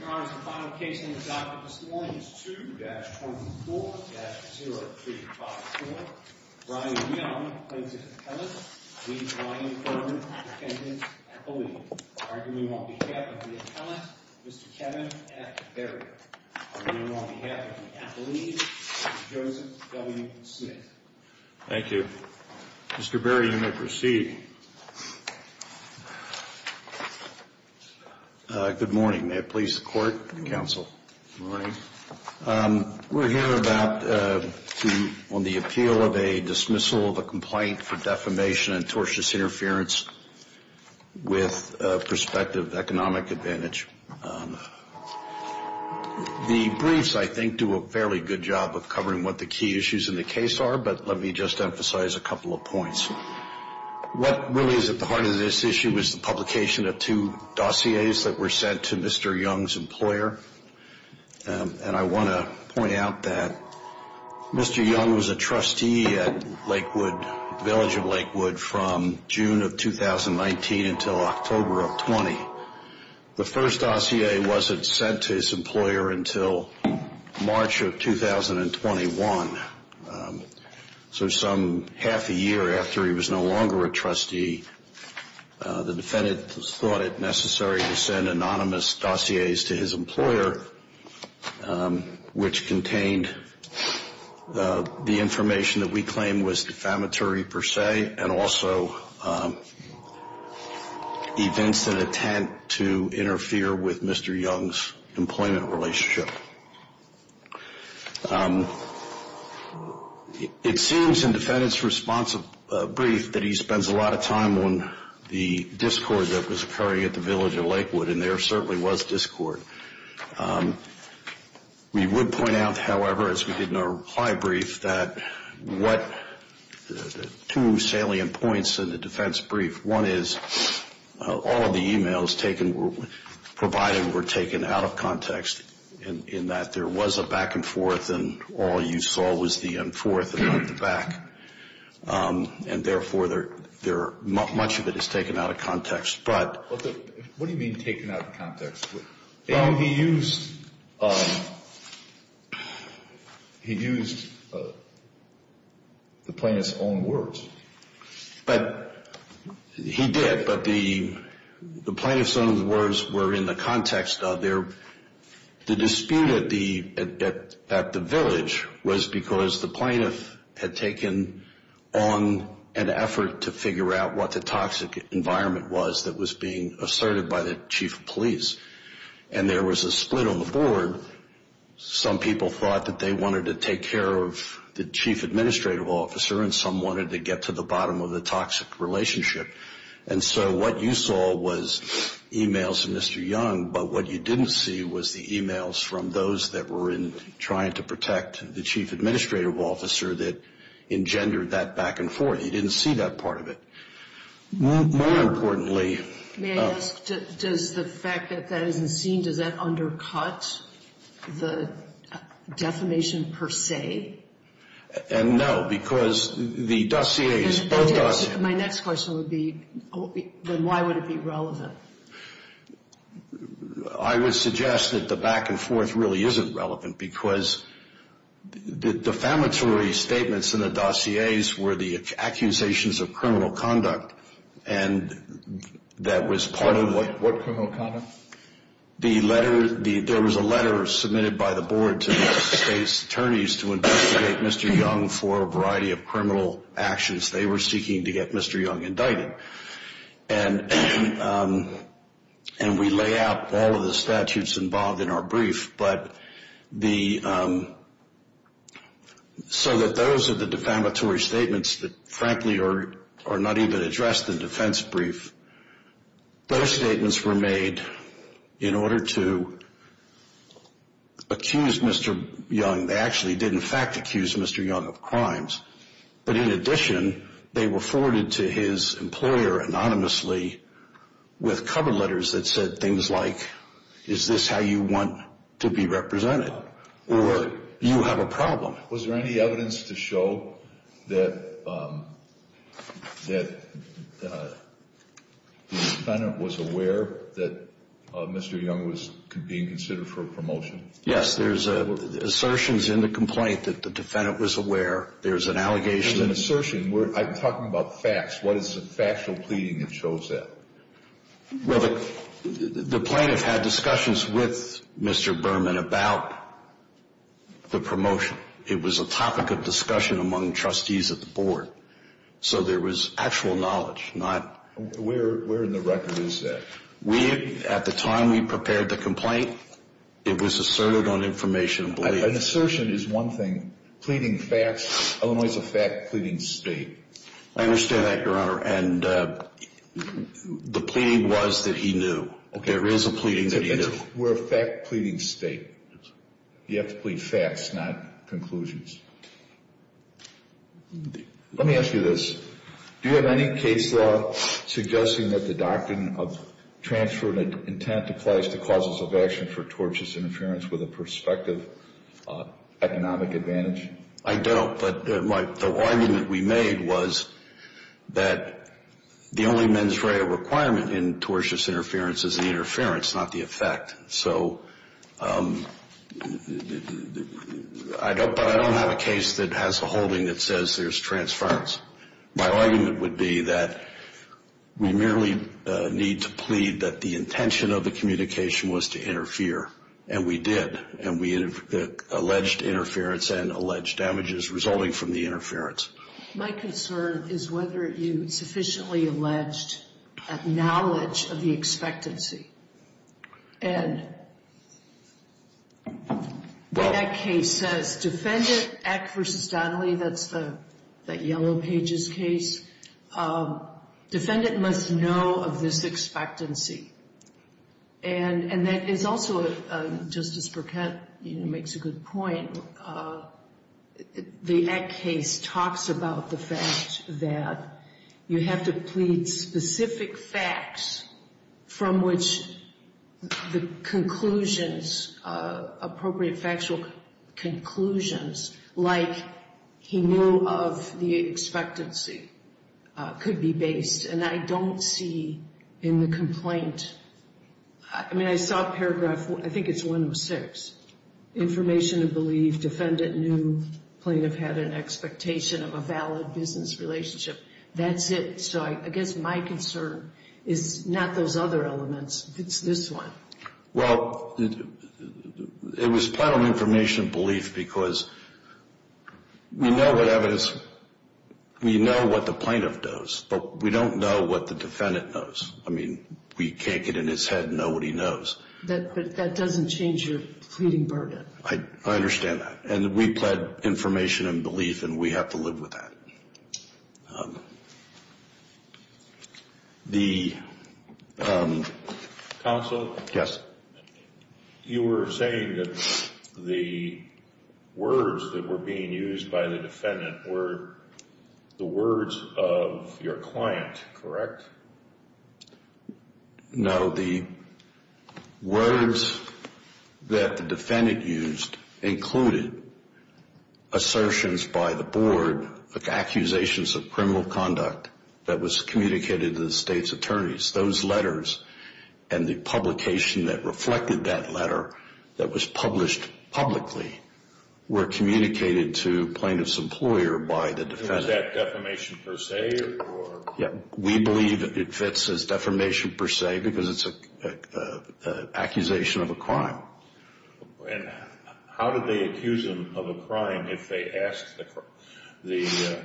Your Honor, the final case on the docket this morning is 2-24-0354. Brian Young, plaintiff's appellant, v. Brian Berman, defendant's appellee. Arguing on behalf of the appellant, Mr. Kevin F. Berry. Arguing on behalf of the appellee, Mr. Joseph W. Smith. Thank you. Mr. Berry, you may proceed. Good morning. May it please the court and counsel. We're here on the appeal of a dismissal of a complaint for defamation and tortious interference with prospective economic advantage. The briefs, I think, do a fairly good job of covering what the key issues in the case are, but let me just emphasize a couple of points. What really is at the heart of this issue is the publication of two dossiers that were sent to Mr. Young's employer. And I want to point out that Mr. Young was a trustee at Lakewood, Village of Lakewood, from June of 2019 until October of 20. The first dossier wasn't sent to his employer until March of 2021. So some half a year after he was no longer a trustee, the defendant thought it necessary to send anonymous dossiers to his employer, which contained the information that we claim was defamatory per se and also events that attempt to interfere with Mr. Young's employment relationship. It seems in the defendant's response brief that he spends a lot of time on the discord that was occurring at the Village of Lakewood, and there certainly was discord. We would point out, however, as we did in our reply brief, that two salient points in the defense brief. One is all of the e-mails provided were taken out of context in that there was a back and forth, and all you saw was the forth and not the back. And therefore, much of it is taken out of context. What do you mean taken out of context? Young, he used the plaintiff's own words. He did, but the plaintiff's own words were in the context of the dispute at the village was because the plaintiff had taken on an effort to figure out what the toxic environment was that was being asserted by the chief of police, and there was a split on the board. Some people thought that they wanted to take care of the chief administrative officer, and some wanted to get to the bottom of the toxic relationship. And so what you saw was e-mails from Mr. Young, but what you didn't see was the e-mails from those that were trying to protect the chief administrative officer that engendered that back and forth. You didn't see that part of it. More importantly. May I ask, does the fact that that isn't seen, does that undercut the defamation per se? No, because the dossiers, both dossiers. My next question would be, then why would it be relevant? I would suggest that the back and forth really isn't relevant because the defamatory statements in the dossiers were the accusations of criminal conduct, and that was part of what? What criminal conduct? There was a letter submitted by the board to the state's attorneys to investigate Mr. Young for a variety of criminal actions. They were seeking to get Mr. Young indicted, and we lay out all of the statutes involved in our brief. So that those are the defamatory statements that frankly are not even addressed in the defense brief. Those statements were made in order to accuse Mr. Young. They actually did in fact accuse Mr. Young of crimes. But in addition, they were forwarded to his employer anonymously with cover letters that said things like, is this how you want to be represented, or do you have a problem? Was there any evidence to show that the defendant was aware that Mr. Young was being considered for a promotion? Yes, there's assertions in the complaint that the defendant was aware. There's an allegation. There's an assertion. I'm talking about facts. What is the factual pleading that shows that? Well, the plaintiff had discussions with Mr. Berman about the promotion. It was a topic of discussion among trustees at the board, so there was actual knowledge. Where in the record is that? At the time we prepared the complaint, it was asserted on information. An assertion is one thing. Pleading facts. Illinois is a fact pleading state. I understand that, Your Honor. And the pleading was that he knew. There is a pleading that he knew. We're a fact pleading state. You have to plead facts, not conclusions. Let me ask you this. Do you have any case law suggesting that the doctrine of transferred intent applies to causes of action for tortious interference with a prospective economic advantage? I don't. But the argument we made was that the only mens rea requirement in tortious interference is the interference, not the effect. So I don't have a case that has a holding that says there's transference. My argument would be that we merely need to plead that the intention of the communication was to interfere, and we did. And we alleged interference and alleged damages resulting from the interference. My concern is whether you sufficiently alleged that knowledge of the expectancy. And that case says defendant, Eck v. Donnelly, that's that Yellow Pages case. Defendant must know of this expectancy. And that is also, Justice Burkett makes a good point, the Eck case talks about the fact that you have to plead specific facts from which the conclusions, appropriate factual conclusions, like he knew of the expectancy, could be based. And I don't see in the complaint, I mean, I saw paragraph, I think it's 106, information of belief. Defendant knew plaintiff had an expectation of a valid business relationship. That's it. So I guess my concern is not those other elements. It's this one. Well, it was plead on information of belief because we know what evidence, we know what the plaintiff knows, but we don't know what the defendant knows. I mean, we can't get in his head and know what he knows. But that doesn't change your pleading burden. I understand that. And we plead information and belief, and we have to live with that. Counsel? Yes. You were saying that the words that were being used by the defendant were the words of your client, correct? No. The words that the defendant used included assertions by the board, accusations of criminal conduct that was communicated to the state's attorneys. Those letters and the publication that reflected that letter that was published publicly were communicated to plaintiff's employer by the defendant. Was that defamation per se? We believe it fits as defamation per se because it's an accusation of a crime. And how did they accuse him of a crime if they asked the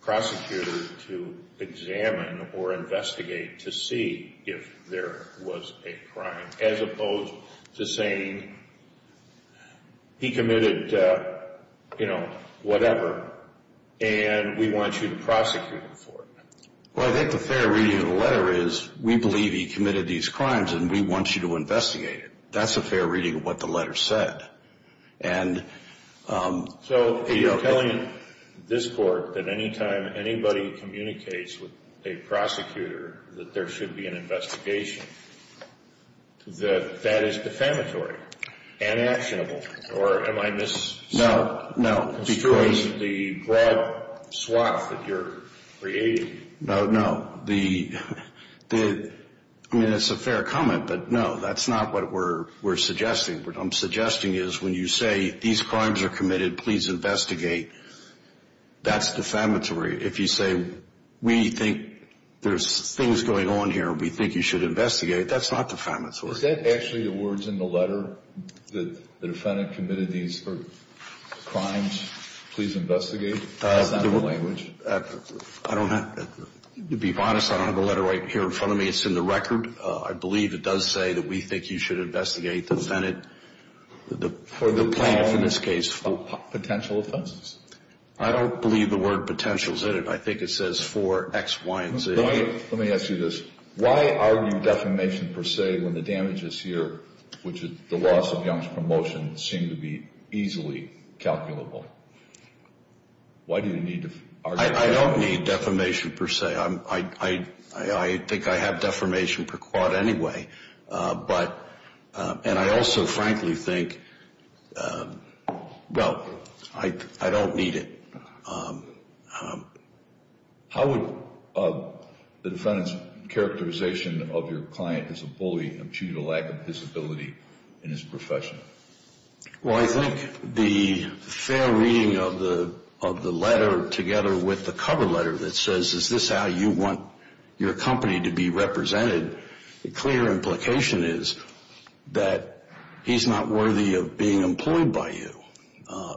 prosecutor to examine or investigate to see if there was a crime, as opposed to saying, he committed, you know, whatever, and we want you to prosecute him for it? Well, I think the fair reading of the letter is, we believe he committed these crimes, and we want you to investigate it. That's a fair reading of what the letter said. So you're telling this court that any time anybody communicates with a prosecutor that there should be an investigation, that that is defamatory and actionable? Or am I misconstruing the broad swath that you're creating? No, no. I mean, it's a fair comment, but no, that's not what we're suggesting. What I'm suggesting is, when you say, these crimes are committed, please investigate, that's defamatory. If you say, we think there's things going on here, we think you should investigate, that's not defamatory. Is that actually the words in the letter that the defendant committed these crimes, please investigate? Is that the language? I don't have – to be honest, I don't have the letter right here in front of me. It's in the record. I believe it does say that we think you should investigate the defendant, the plaintiff in this case, for potential offenses. I don't believe the word potential is in it. I think it says for X, Y, and Z. Let me ask you this. Why argue defamation per se when the damages here, which is the loss of Young's promotion, seem to be easily calculable? Why do you need to argue defamation? I don't need defamation per se. I think I have defamation per quad anyway. But – and I also frankly think, well, I don't need it. How would the defendant's characterization of your client as a bully achieve a lack of visibility in his profession? Well, I think the fair reading of the letter together with the cover letter that says, is this how you want your company to be represented, the clear implication is that he's not worthy of being employed by you.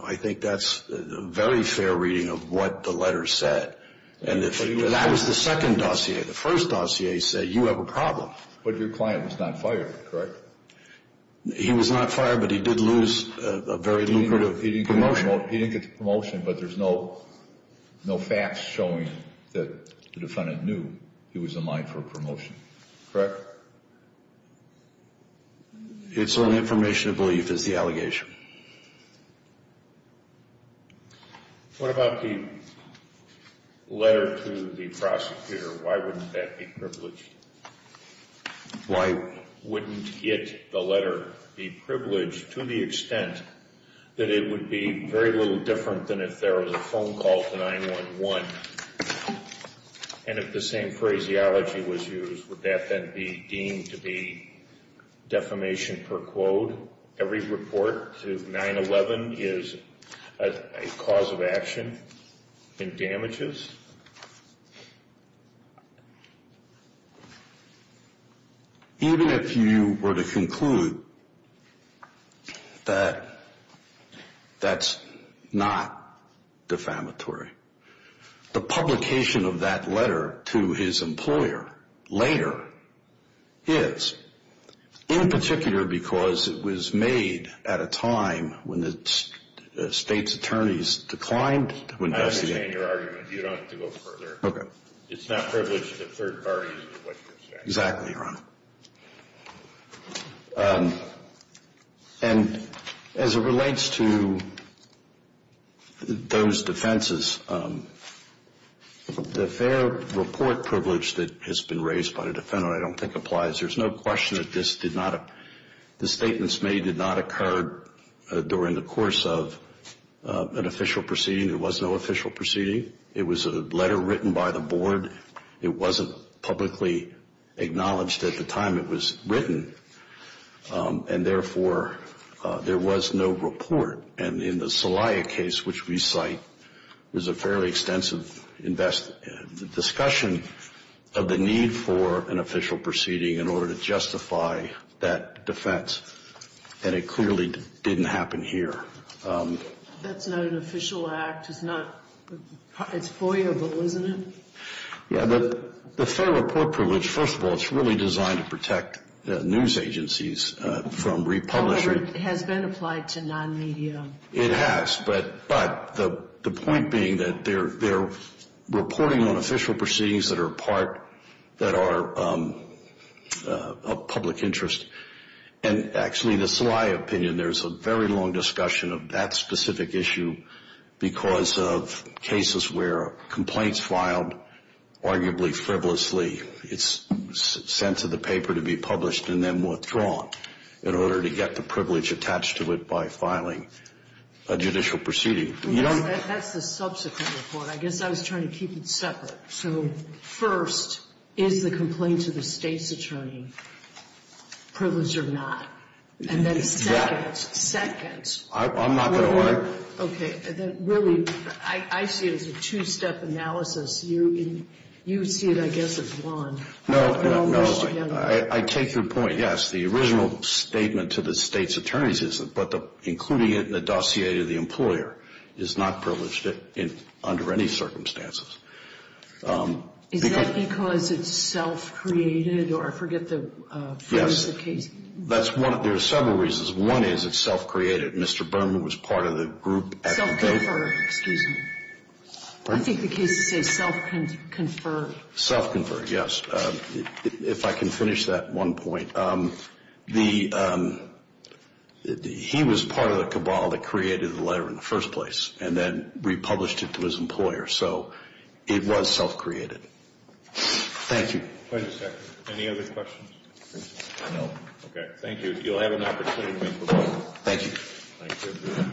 I think that's a very fair reading of what the letter said. And that was the second dossier. The first dossier said you have a problem. But your client was not fired, correct? He was not fired, but he did lose a very lucrative promotion. He didn't get the promotion, but there's no facts showing that the defendant knew he was a mine for a promotion, correct? It's only information of belief is the allegation. What about the letter to the prosecutor? Why wouldn't that be privileged? Why wouldn't it, the letter, be privileged to the extent that it would be very little different than if there was a phone call to 911? And if the same phraseology was used, would that then be deemed to be defamation per quote? Every report to 911 is a cause of action in damages? Even if you were to conclude that that's not defamatory, the publication of that letter to his employer later is, in particular because it was made at a time when the state's attorneys declined to investigate. I understand your argument. You don't have to go further. Okay. It's not privileged to third parties. Exactly, Your Honor. And as it relates to those defenses, the fair report privilege that has been raised by the defendant I don't think applies. There's no question that the statements made did not occur during the course of an official proceeding. There was no official proceeding. It was a letter written by the board. It wasn't publicly acknowledged at the time it was written. And, therefore, there was no report. And in the Celaya case, which we cite, was a fairly extensive discussion of the need for an official proceeding in order to justify that defense. And it clearly didn't happen here. That's not an official act. It's foyerable, isn't it? Yeah, the fair report privilege, first of all, it's really designed to protect news agencies from republishing. However, it has been applied to non-media. It has, but the point being that they're reporting on official proceedings that are a part, that are of public interest. And, actually, the Celaya opinion, there's a very long discussion of that specific issue because of cases where complaints filed arguably frivolously, it's sent to the paper to be published and then withdrawn in order to get the privilege attached to it by filing a judicial proceeding. That's the subsequent report. I guess I was trying to keep it separate. So, first, is the complaint to the state's attorney privileged or not? And then second. Second. I'm not going to lie. Okay. Really, I see it as a two-step analysis. You see it, I guess, as one. No, I take your point, yes. The original statement to the state's attorney's isn't, but including it in the dossier to the employer is not privileged under any circumstances. Is that because it's self-created? Or I forget the case. Yes. There are several reasons. One is it's self-created. Mr. Berman was part of the group at the date. Self-conferred. Excuse me. I think the case says self-conferred. Self-conferred, yes. If I can finish that one point. He was part of the cabal that created the letter in the first place and then republished it to his employer. So it was self-created. Thank you. Any other questions? No. Okay. Thank you. You'll have an opportunity to make a motion. Thank you. Thank you.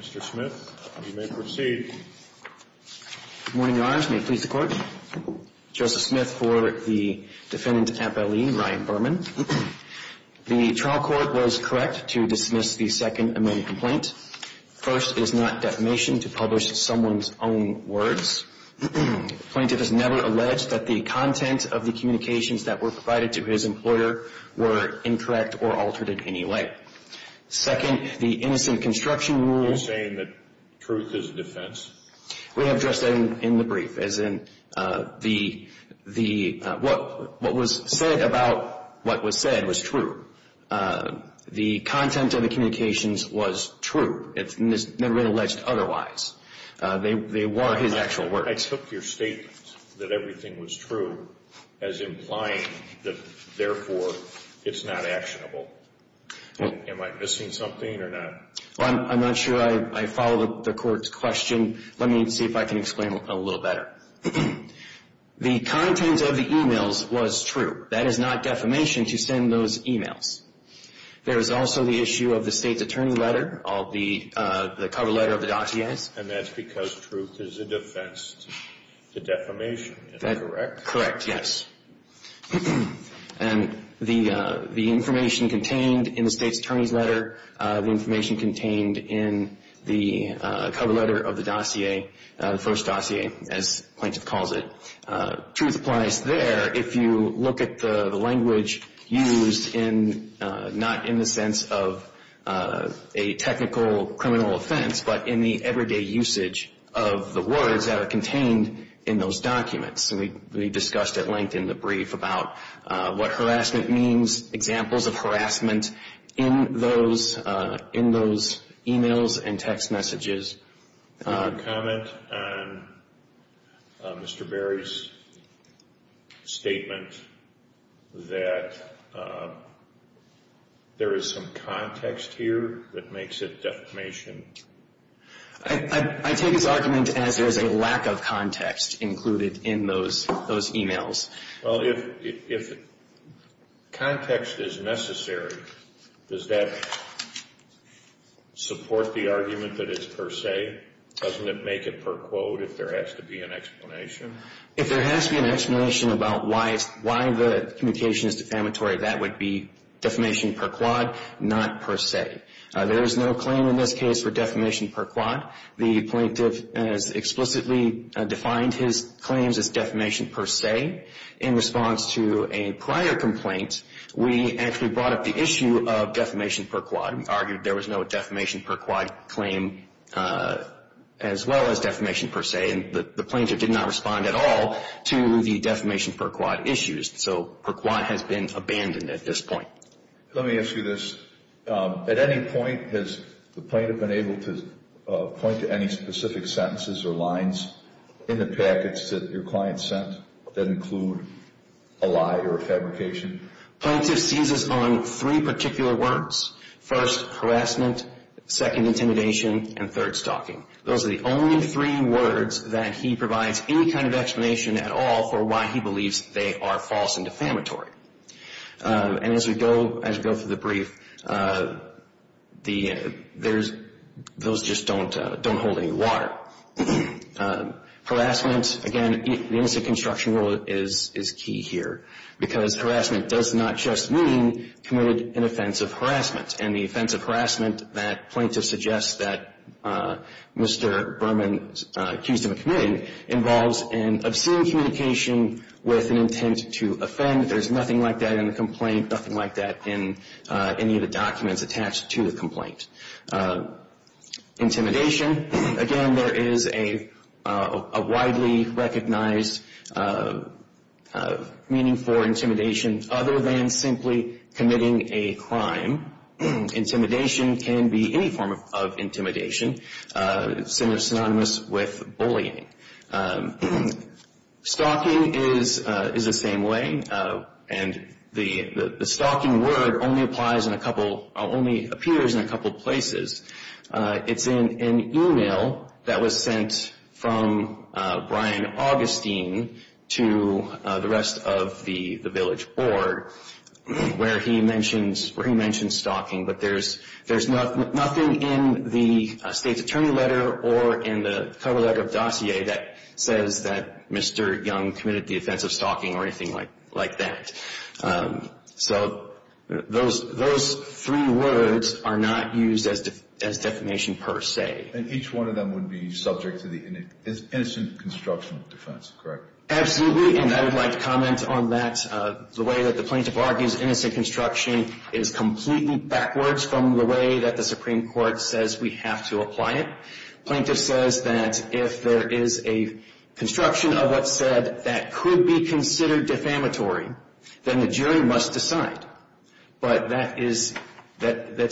Mr. Smith, you may proceed. Good morning, Your Honors. May it please the Court. Joseph Smith for the defendant appellee, Ryan Berman. The trial court was correct to dismiss the second amending complaint. First, it is not defamation to publish someone's own words. The plaintiff has never alleged that the content of the communications that were provided to his employer were incorrect or altered in any way. Second, the innocent construction rule. Are you saying that truth is defense? We have addressed that in the brief. As in, what was said about what was said was true. The content of the communications was true. It's never been alleged otherwise. They were his actual words. I took your statement that everything was true as implying that, therefore, it's not actionable. Am I missing something or not? I'm not sure. I follow the Court's question. Let me see if I can explain a little better. The content of the e-mails was true. That is not defamation to send those e-mails. There is also the issue of the State's Attorney letter, the cover letter of the dossiers. And that's because truth is a defense to defamation. Is that correct? Correct, yes. And the information contained in the State's Attorney's letter, the information contained in the cover letter of the dossier, the first dossier, as the plaintiff calls it, truth applies there. If you look at the language used in, not in the sense of a technical criminal offense, but in the everyday usage of the words that are contained in those documents. We discussed at length in the brief about what harassment means, examples of harassment in those e-mails and text messages. Do you want to comment on Mr. Berry's statement that there is some context here that makes it defamation? I take his argument as there is a lack of context included in those e-mails. Well, if context is necessary, does that support the argument that it's per se? Doesn't it make it per quote if there has to be an explanation? If there has to be an explanation about why the communication is defamatory, that would be defamation per quad, not per se. There is no claim in this case for defamation per quad. The plaintiff has explicitly defined his claims as defamation per se. In response to a prior complaint, we actually brought up the issue of defamation per quad. We argued there was no defamation per quad claim as well as defamation per se, and the plaintiff did not respond at all to the defamation per quad issues. So per quad has been abandoned at this point. Let me ask you this. At any point has the plaintiff been able to point to any specific sentences or lines in the package that your client sent that include a lie or a fabrication? Plaintiff sees us on three particular words, first, harassment, second, intimidation, and third, stalking. Those are the only three words that he provides any kind of explanation at all for why he believes they are false and defamatory. And as we go through the brief, those just don't hold any water. Harassment, again, the innocent construction rule is key here because harassment does not just mean committed an offense of harassment, and the offense of harassment that plaintiff suggests that Mr. Berman accused him of committing involves an obscene communication with an intent to offend. There is nothing like that in the complaint, nothing like that in any of the documents attached to the complaint. Intimidation, again, there is a widely recognized meaning for intimidation other than simply committing a crime. Intimidation can be any form of intimidation, synonymous with bullying. Stalking is the same way, and the stalking word only applies in a couple, only appears in a couple places. It's in an email that was sent from Brian Augustine to the rest of the village board where he mentions stalking, but there's nothing in the state's attorney letter or in the cover letter of dossier that says that Mr. Young committed the offense of stalking or anything like that. So those three words are not used as defamation per se. And each one of them would be subject to the innocent construction defense, correct? Absolutely, and I would like to comment on that. The way that the plaintiff argues innocent construction is completely backwards from the way that the Supreme Court says we have to apply it. Plaintiff says that if there is a construction of what's said that could be considered defamatory, then the jury must decide. But that's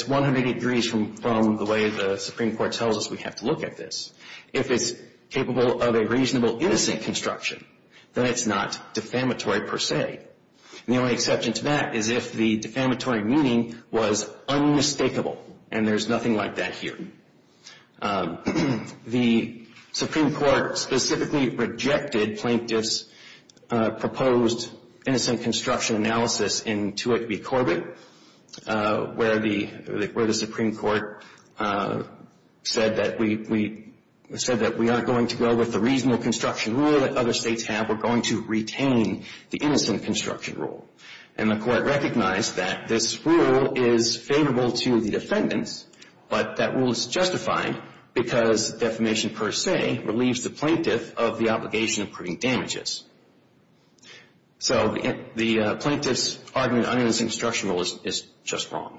180 degrees from the way the Supreme Court tells us we have to look at this. If it's capable of a reasonable innocent construction, then it's not defamatory per se. And the only exception to that is if the defamatory meaning was unmistakable, and there's nothing like that here. The Supreme Court specifically rejected plaintiff's proposed innocent construction analysis in Tuick v. Corbett, where the Supreme Court said that we aren't going to go with the reasonable construction rule that other states have. We're going to retain the innocent construction rule. And the Court recognized that this rule is favorable to the defendants, but that rule is justified because defamation per se relieves the plaintiff of the obligation of proving damages. So the plaintiff's argument on innocent construction rule is just wrong.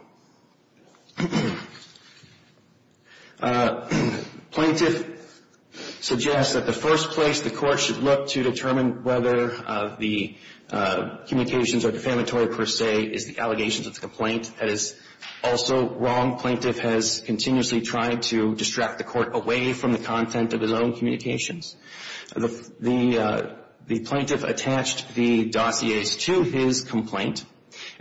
Plaintiff suggests that the first place the Court should look to determine whether the communications are defamatory per se is the allegations of the complaint. That is also wrong. Plaintiff has continuously tried to distract the Court away from the content of his own communications. The plaintiff attached the dossiers to his complaint.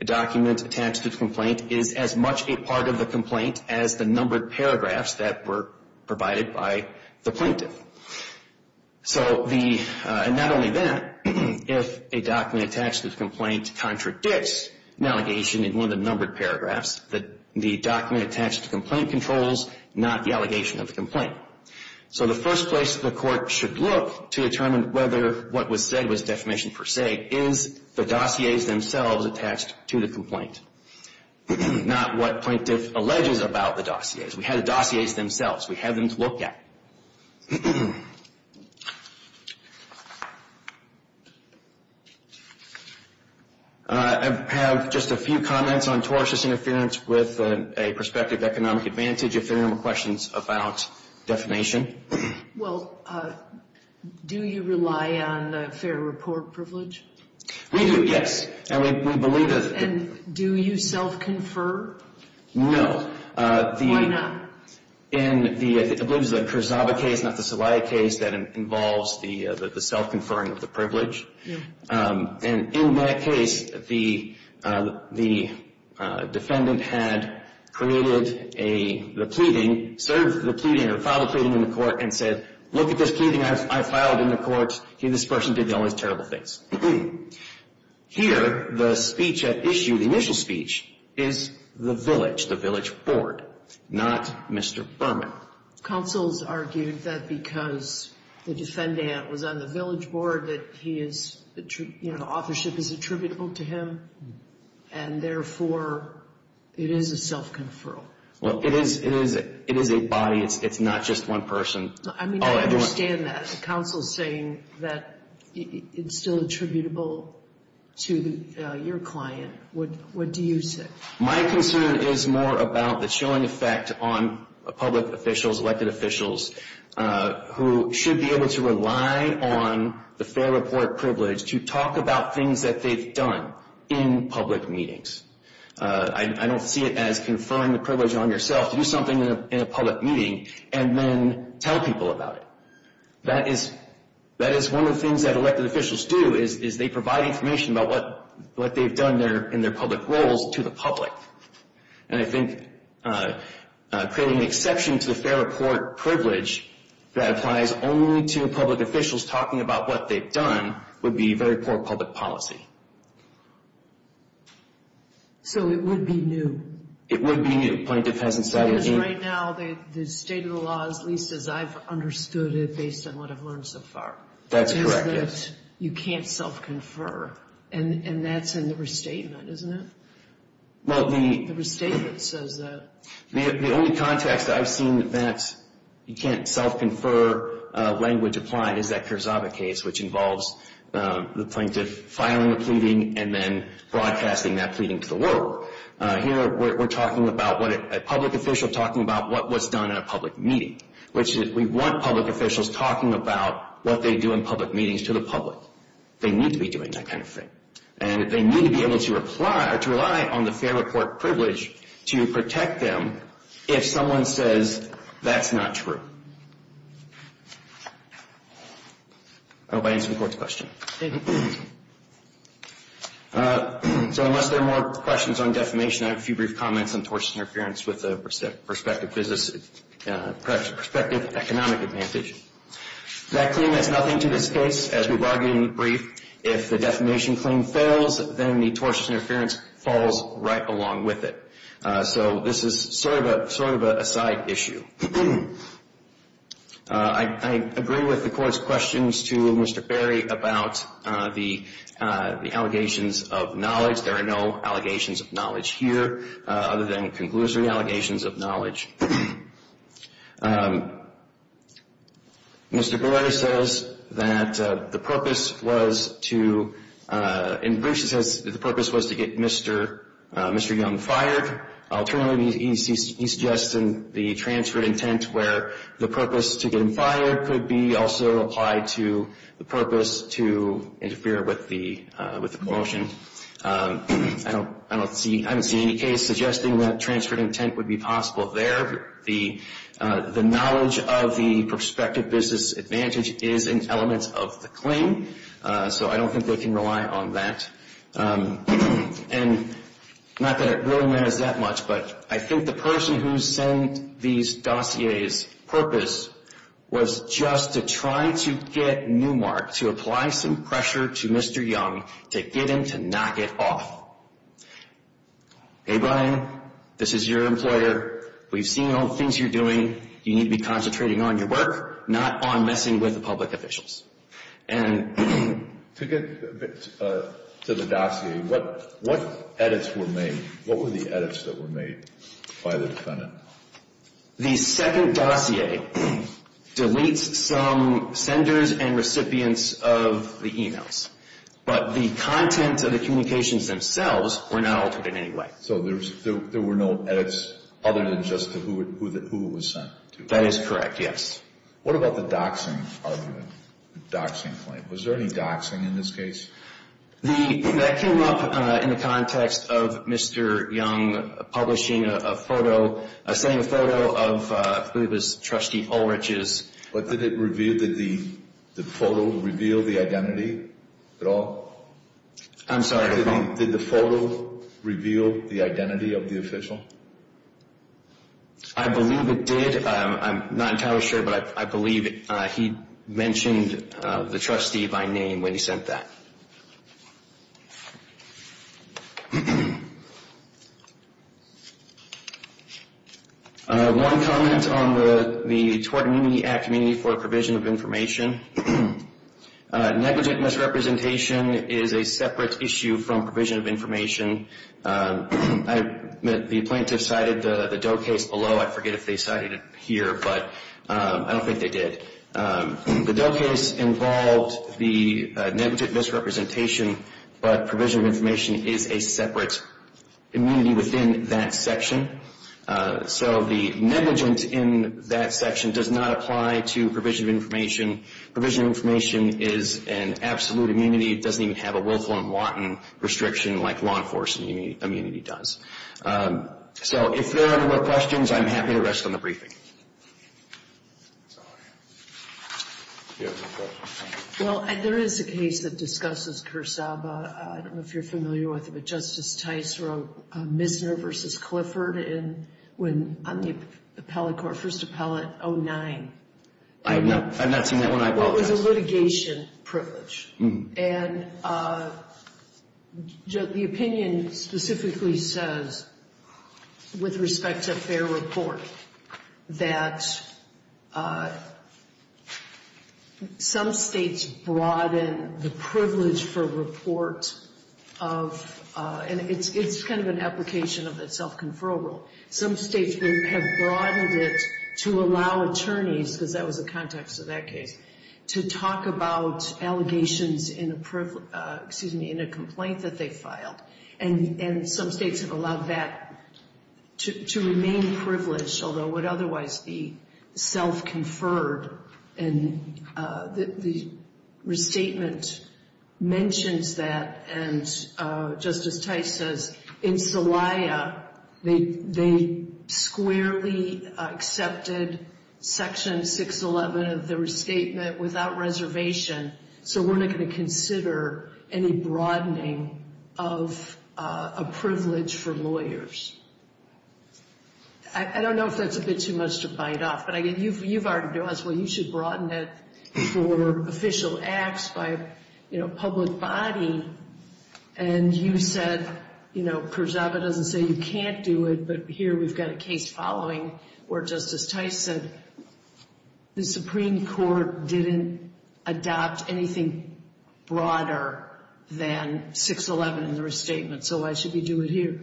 A document attached to the complaint is as much a part of the complaint as the numbered paragraphs that were provided by the plaintiff. So not only that, if a document attached to the complaint contradicts an allegation in one of the numbered paragraphs, the document attached to the complaint controls not the allegation of the complaint. So the first place the Court should look to determine whether what was said was defamation per se is the dossiers themselves attached to the complaint, not what plaintiff alleges about the dossiers. We have the dossiers themselves. We have them to look at. I have just a few comments on tortious interference with a prospective economic advantage if there are no questions about defamation. Well, do you rely on fair report privilege? We do, yes. And we believe that And do you self-confer? No. Why not? In the, I believe it was the Kurzawa case, not the Celaya case, that involves the self-conferring of the privilege. Yeah. And in that case, the defendant had created a, the pleading, served the pleading or filed the pleading in the court and said, look at this pleading I filed in the court. This person did the only terrible things. Here, the speech at issue, the initial speech, is the village, the village board, not Mr. Berman. Counsel's argued that because the defendant was on the village board that he is, you know, authorship is attributable to him and therefore it is a self-conferral. Well, it is, it is a body. It's not just one person. I mean, I understand that. The counsel's saying that it's still attributable to your client. What do you say? My concern is more about the chilling effect on public officials, elected officials, who should be able to rely on the fair report privilege to talk about things that they've done in public meetings. I don't see it as conferring the privilege on yourself to do something in a public meeting and then tell people about it. That is, that is one of the things that elected officials do, is they provide information about what they've done in their public roles to the public. And I think creating an exception to the fair report privilege that applies only to public officials talking about what they've done would be very poor public policy. So it would be new. It would be new, pointing to peasant status. Because right now the state of the law, at least as I've understood it based on what I've learned so far, says that you can't self-confer. And that's in the restatement, isn't it? The restatement says that. The only context I've seen that you can't self-confer language applied is that Carzaba case, which involves the plaintiff filing a pleading and then broadcasting that pleading to the world. Here we're talking about a public official talking about what was done in a public meeting, which we want public officials talking about what they do in public meetings to the public. They need to be doing that kind of thing. And they need to be able to rely on the fair report privilege to protect them if someone says that's not true. I hope I answered the Court's question. So unless there are more questions on defamation, I have a few brief comments on tortious interference with the prospective economic advantage. That claim adds nothing to this case, as we've argued in the brief. If the defamation claim fails, then the tortious interference falls right along with it. So this is sort of a side issue. I agree with the Court's questions to Mr. Berry about the allegations of knowledge. There are no allegations of knowledge here other than conclusory allegations of knowledge. Mr. Berry says that the purpose was to get Mr. Young fired. Alternatively, he suggests in the transferred intent where the purpose to get him fired could be also applied to the purpose to interfere with the promotion. I don't see any case suggesting that transferred intent would be possible there. The knowledge of the prospective business advantage is an element of the claim, so I don't think they can rely on that. And not that it really matters that much, but I think the person who sent these dossiers' purpose was just to try to get Newmark to apply some pressure to Mr. Young to get him to not get off. Hey, Brian, this is your employer. We've seen all the things you're doing. You need to be concentrating on your work, not on messing with the public officials. To get to the dossier, what edits were made? What were the edits that were made by the defendant? The second dossier deletes some senders and recipients of the e-mails, but the content of the communications themselves were not altered in any way. So there were no edits other than just to who it was sent to? That is correct, yes. What about the doxing argument, the doxing claim? Was there any doxing in this case? That came up in the context of Mr. Young publishing a photo, a same photo of, I believe it was Trustee Ulrich's. Did the photo reveal the identity at all? I'm sorry? Did the photo reveal the identity of the official? I believe it did. I'm not entirely sure, but I believe he mentioned the trustee by name when he sent that. One comment on the Tort Amenity Act amenity for provision of information. Negligent misrepresentation is a separate issue from provision of information. The plaintiff cited the Doe case below. I forget if they cited it here, but I don't think they did. The Doe case involved the negligent misrepresentation, but provision of information is a separate amenity within that section. So the negligent in that section does not apply to provision of information. Provision of information is an absolute amenity. It doesn't even have a willful and wanton restriction like law enforcement amenity does. So if there are no more questions, I'm happy to rest on the briefing. Well, there is a case that discusses Cursaba. I don't know if you're familiar with it, but Justice Tice wrote Misner v. Clifford on the first appellate 09. I've not seen that one, I apologize. Well, it was a litigation privilege. And the opinion specifically says, with respect to fair report, that some States broaden the privilege for report of It's kind of an application of a self-conferral rule. Some States have broadened it to allow attorneys, because that was the context of that case, to talk about allegations in a complaint that they filed. And some States have allowed that to remain privileged, although it would otherwise be self-conferred. And the restatement mentions that. And Justice Tice says, in Celaya, they squarely accepted Section 611 of the restatement without reservation. So we're not going to consider any broadening of a privilege for lawyers. I don't know if that's a bit too much to bite off. But you've already asked, well, you should broaden it for official acts by, you know, public body. And you said, you know, Kurzabe doesn't say you can't do it. But here we've got a case following where Justice Tice said the Supreme Court didn't adopt anything broader than 611 in the restatement. So why should we do it here?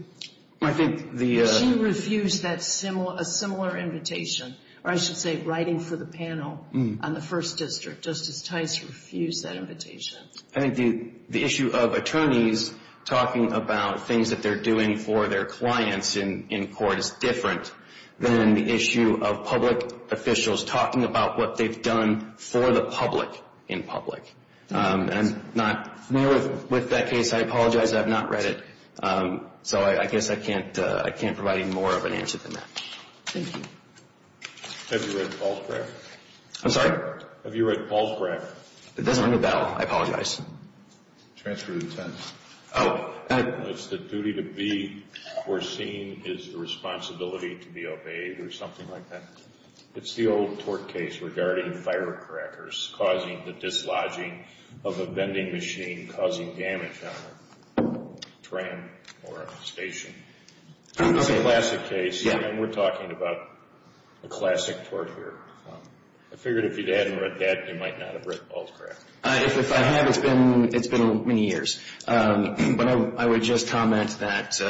She refused a similar invitation, or I should say writing for the panel on the First District. Justice Tice refused that invitation. I think the issue of attorneys talking about things that they're doing for their clients in court is different than the issue of public officials talking about what they've done for the public in public. And I'm not new with that case. I apologize. I have not read it. So I guess I can't provide any more of an answer than that. Thank you. Have you read Paul's record? I'm sorry? Have you read Paul's record? It doesn't ring a bell. I apologize. Transfer of intent. Oh. It's the duty to be foreseen is the responsibility to be obeyed or something like that. It's the old tort case regarding firecrackers causing the dislodging of a vending machine causing damage on a tram or a station. It's a classic case, and we're talking about a classic tort here. I figured if you hadn't read that, you might not have read Paul's record. If I had, it's been many years. But I would just comment that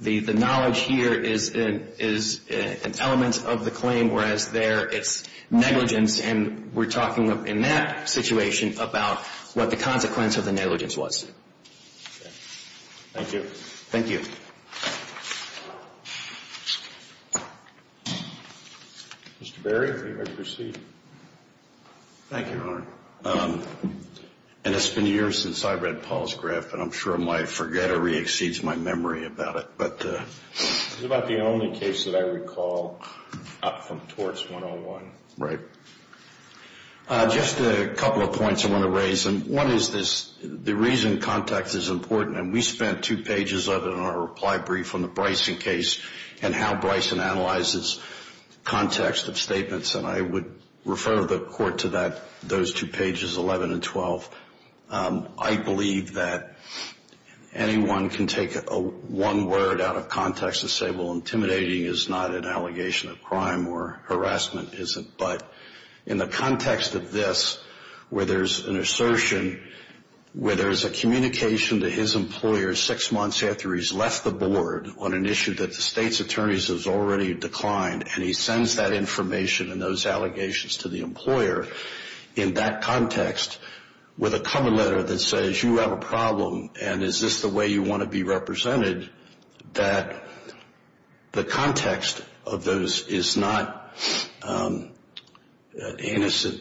the knowledge here is an element of the claim, whereas there it's negligence, and we're talking in that situation about what the consequence of the negligence was. Thank you. Thank you. Mr. Berry, are you ready to proceed? Thank you, Your Honor. It's been years since I read Paul's graph, and I'm sure my forgettery exceeds my memory about it. It's about the only case that I recall up from torts 101. Right. Just a couple of points I want to raise. One is the reason context is important, and we spent two pages of it in our reply brief on the Bryson case and how Bryson analyzes context of statements, and I would refer the Court to those two pages, 11 and 12. I believe that anyone can take one word out of context and say, well, intimidating is not an allegation of crime or harassment isn't. But in the context of this, where there's an assertion, where there's a communication to his employer six months after he's left the board on an issue that the State's attorneys have already declined, and he sends that information and those allegations to the employer in that context with a cover letter that says you have a problem and is this the way you want to be represented, that the context of those is not an innocent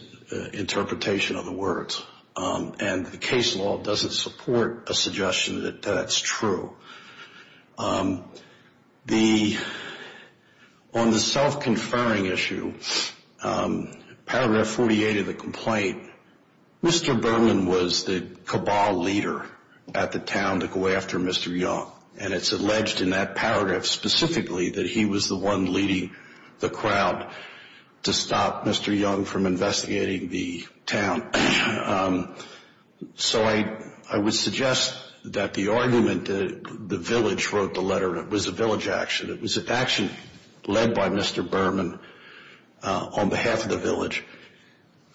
interpretation of the words, and the case law doesn't support a suggestion that that's true. On the self-conferring issue, paragraph 48 of the complaint, Mr. Berman was the cabal leader at the town to go after Mr. Young, and it's alleged in that paragraph specifically that he was the one leading the crowd to stop Mr. Young from investigating the town. So I would suggest that the argument that the village wrote the letter was a village action. It was an action led by Mr. Berman on behalf of the village.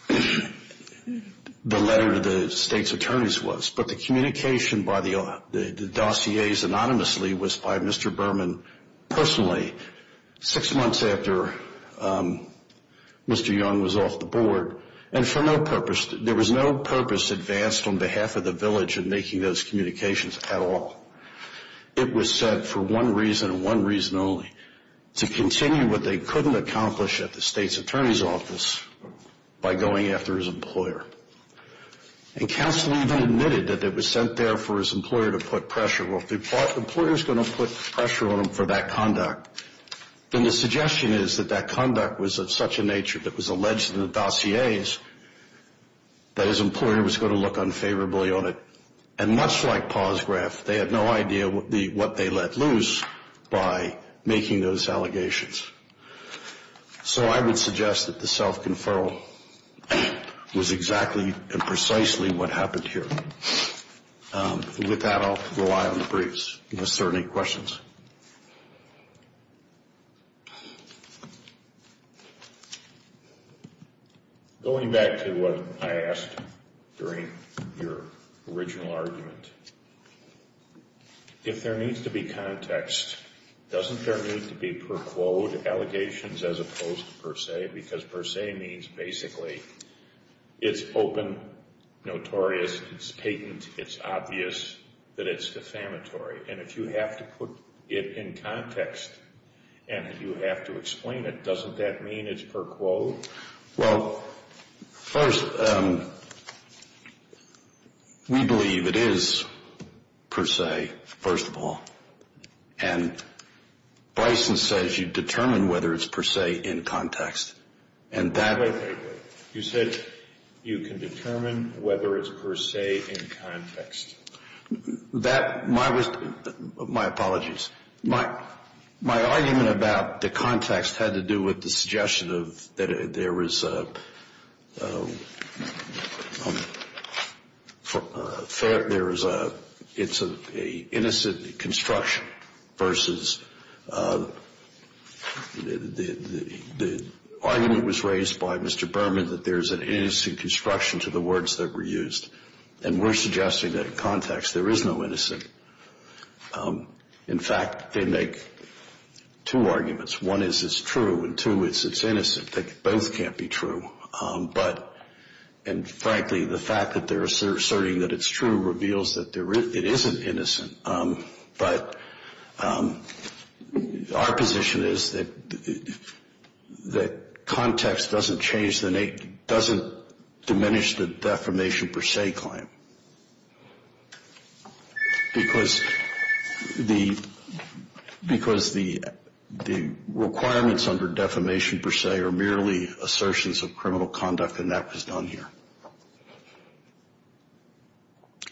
The letter to the State's attorneys was. But the communication by the dossiers anonymously was by Mr. Berman personally six months after Mr. Young was off the board, and for no purpose, there was no purpose advanced on behalf of the village in making those communications at all. It was said for one reason and one reason only, to continue what they couldn't accomplish at the State's attorney's office by going after his employer. And counsel even admitted that it was sent there for his employer to put pressure. Well, if the employer's going to put pressure on him for that conduct, then the suggestion is that that conduct was of such a nature that was alleged in the dossiers that his employer was going to look unfavorably on it. And much like Pawsgraph, they had no idea what they let loose by making those allegations. So I would suggest that the self-conferral was exactly and precisely what happened here. With that, I'll rely on the briefs. Mr. Earnick, questions? Going back to what I asked during your original argument, if there needs to be context, doesn't there need to be per quote allegations as opposed to per se? Because per se means basically it's open, notorious, it's patent, it's obvious that it's defamatory. And if you have to put it in context and you have to explain it, doesn't that mean it's per quote? Well, first, we believe it is per se, first of all. And Bryson says you determine whether it's per se in context. Wait, wait, wait. You said you can determine whether it's per se in context. My apologies. My argument about the context had to do with the suggestion that there is a fair – it's an innocent construction versus – the argument was raised by Mr. Berman that there is an innocent construction to the words that were used. And we're suggesting that in context there is no innocent. In fact, they make two arguments. One is it's true, and two is it's innocent. Both can't be true. But – and frankly, the fact that they're asserting that it's true reveals that it isn't innocent. But our position is that context doesn't change the – doesn't diminish the defamation per se claim. Because the requirements under defamation per se are merely assertions of criminal conduct, and that was done here.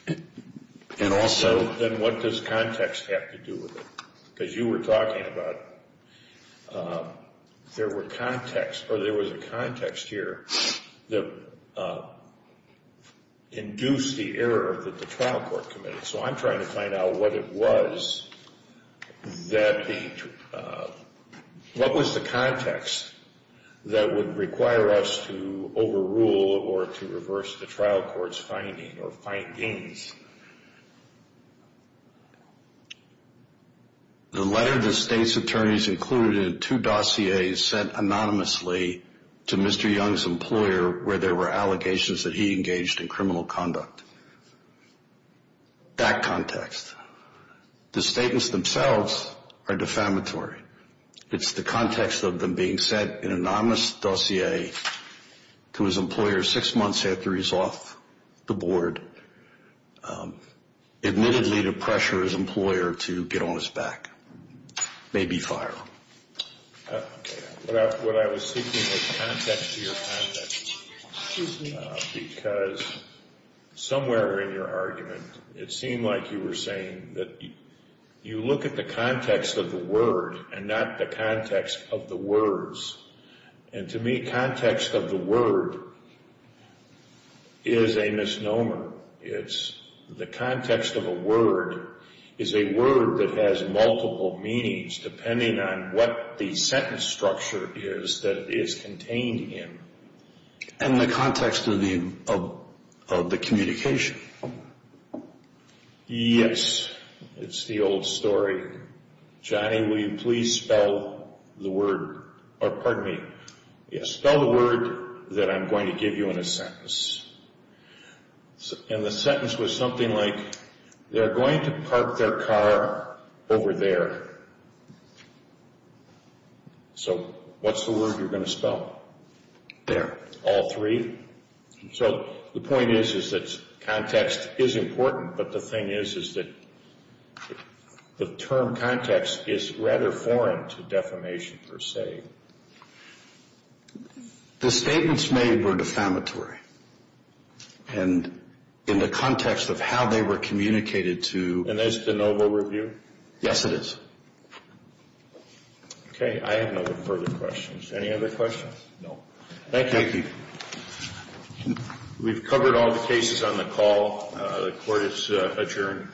And also – Then what does context have to do with it? Because you were talking about there were context – or there was a context here that induced the error that the trial court committed. So I'm trying to find out what it was that the – what was the context that would require us to overrule or to reverse the trial court's finding or findings? The letter the state's attorneys included in two dossiers sent anonymously to Mr. Young's employer where there were allegations that he engaged in criminal conduct. That context. The statements themselves are defamatory. It's the context of them being sent in an anonymous dossier to his employer six months after he's off the board, admittedly to pressure his employer to get on his back. Maybe fire him. What I was seeking was context to your context. Excuse me. Because somewhere in your argument it seemed like you were saying that you look at the context of the word and not the context of the words. And to me context of the word is a misnomer. The context of a word is a word that has multiple meanings depending on what the sentence structure is that it is contained in. And the context of the communication. Yes. It's the old story. Johnny, will you please spell the word? Or pardon me. Yes. Spell the word that I'm going to give you in a sentence. And the sentence was something like, they're going to park their car over there. So what's the word you're going to spell? There. All three? So the point is is that context is important, but the thing is is that the term context is rather foreign to defamation per se. The statements made were defamatory. And in the context of how they were communicated to you. And that's the noble review? Yes, it is. Okay. I have no further questions. Any other questions? No. Thank you. Thank you. We've covered all the cases on the call. The court is adjourned.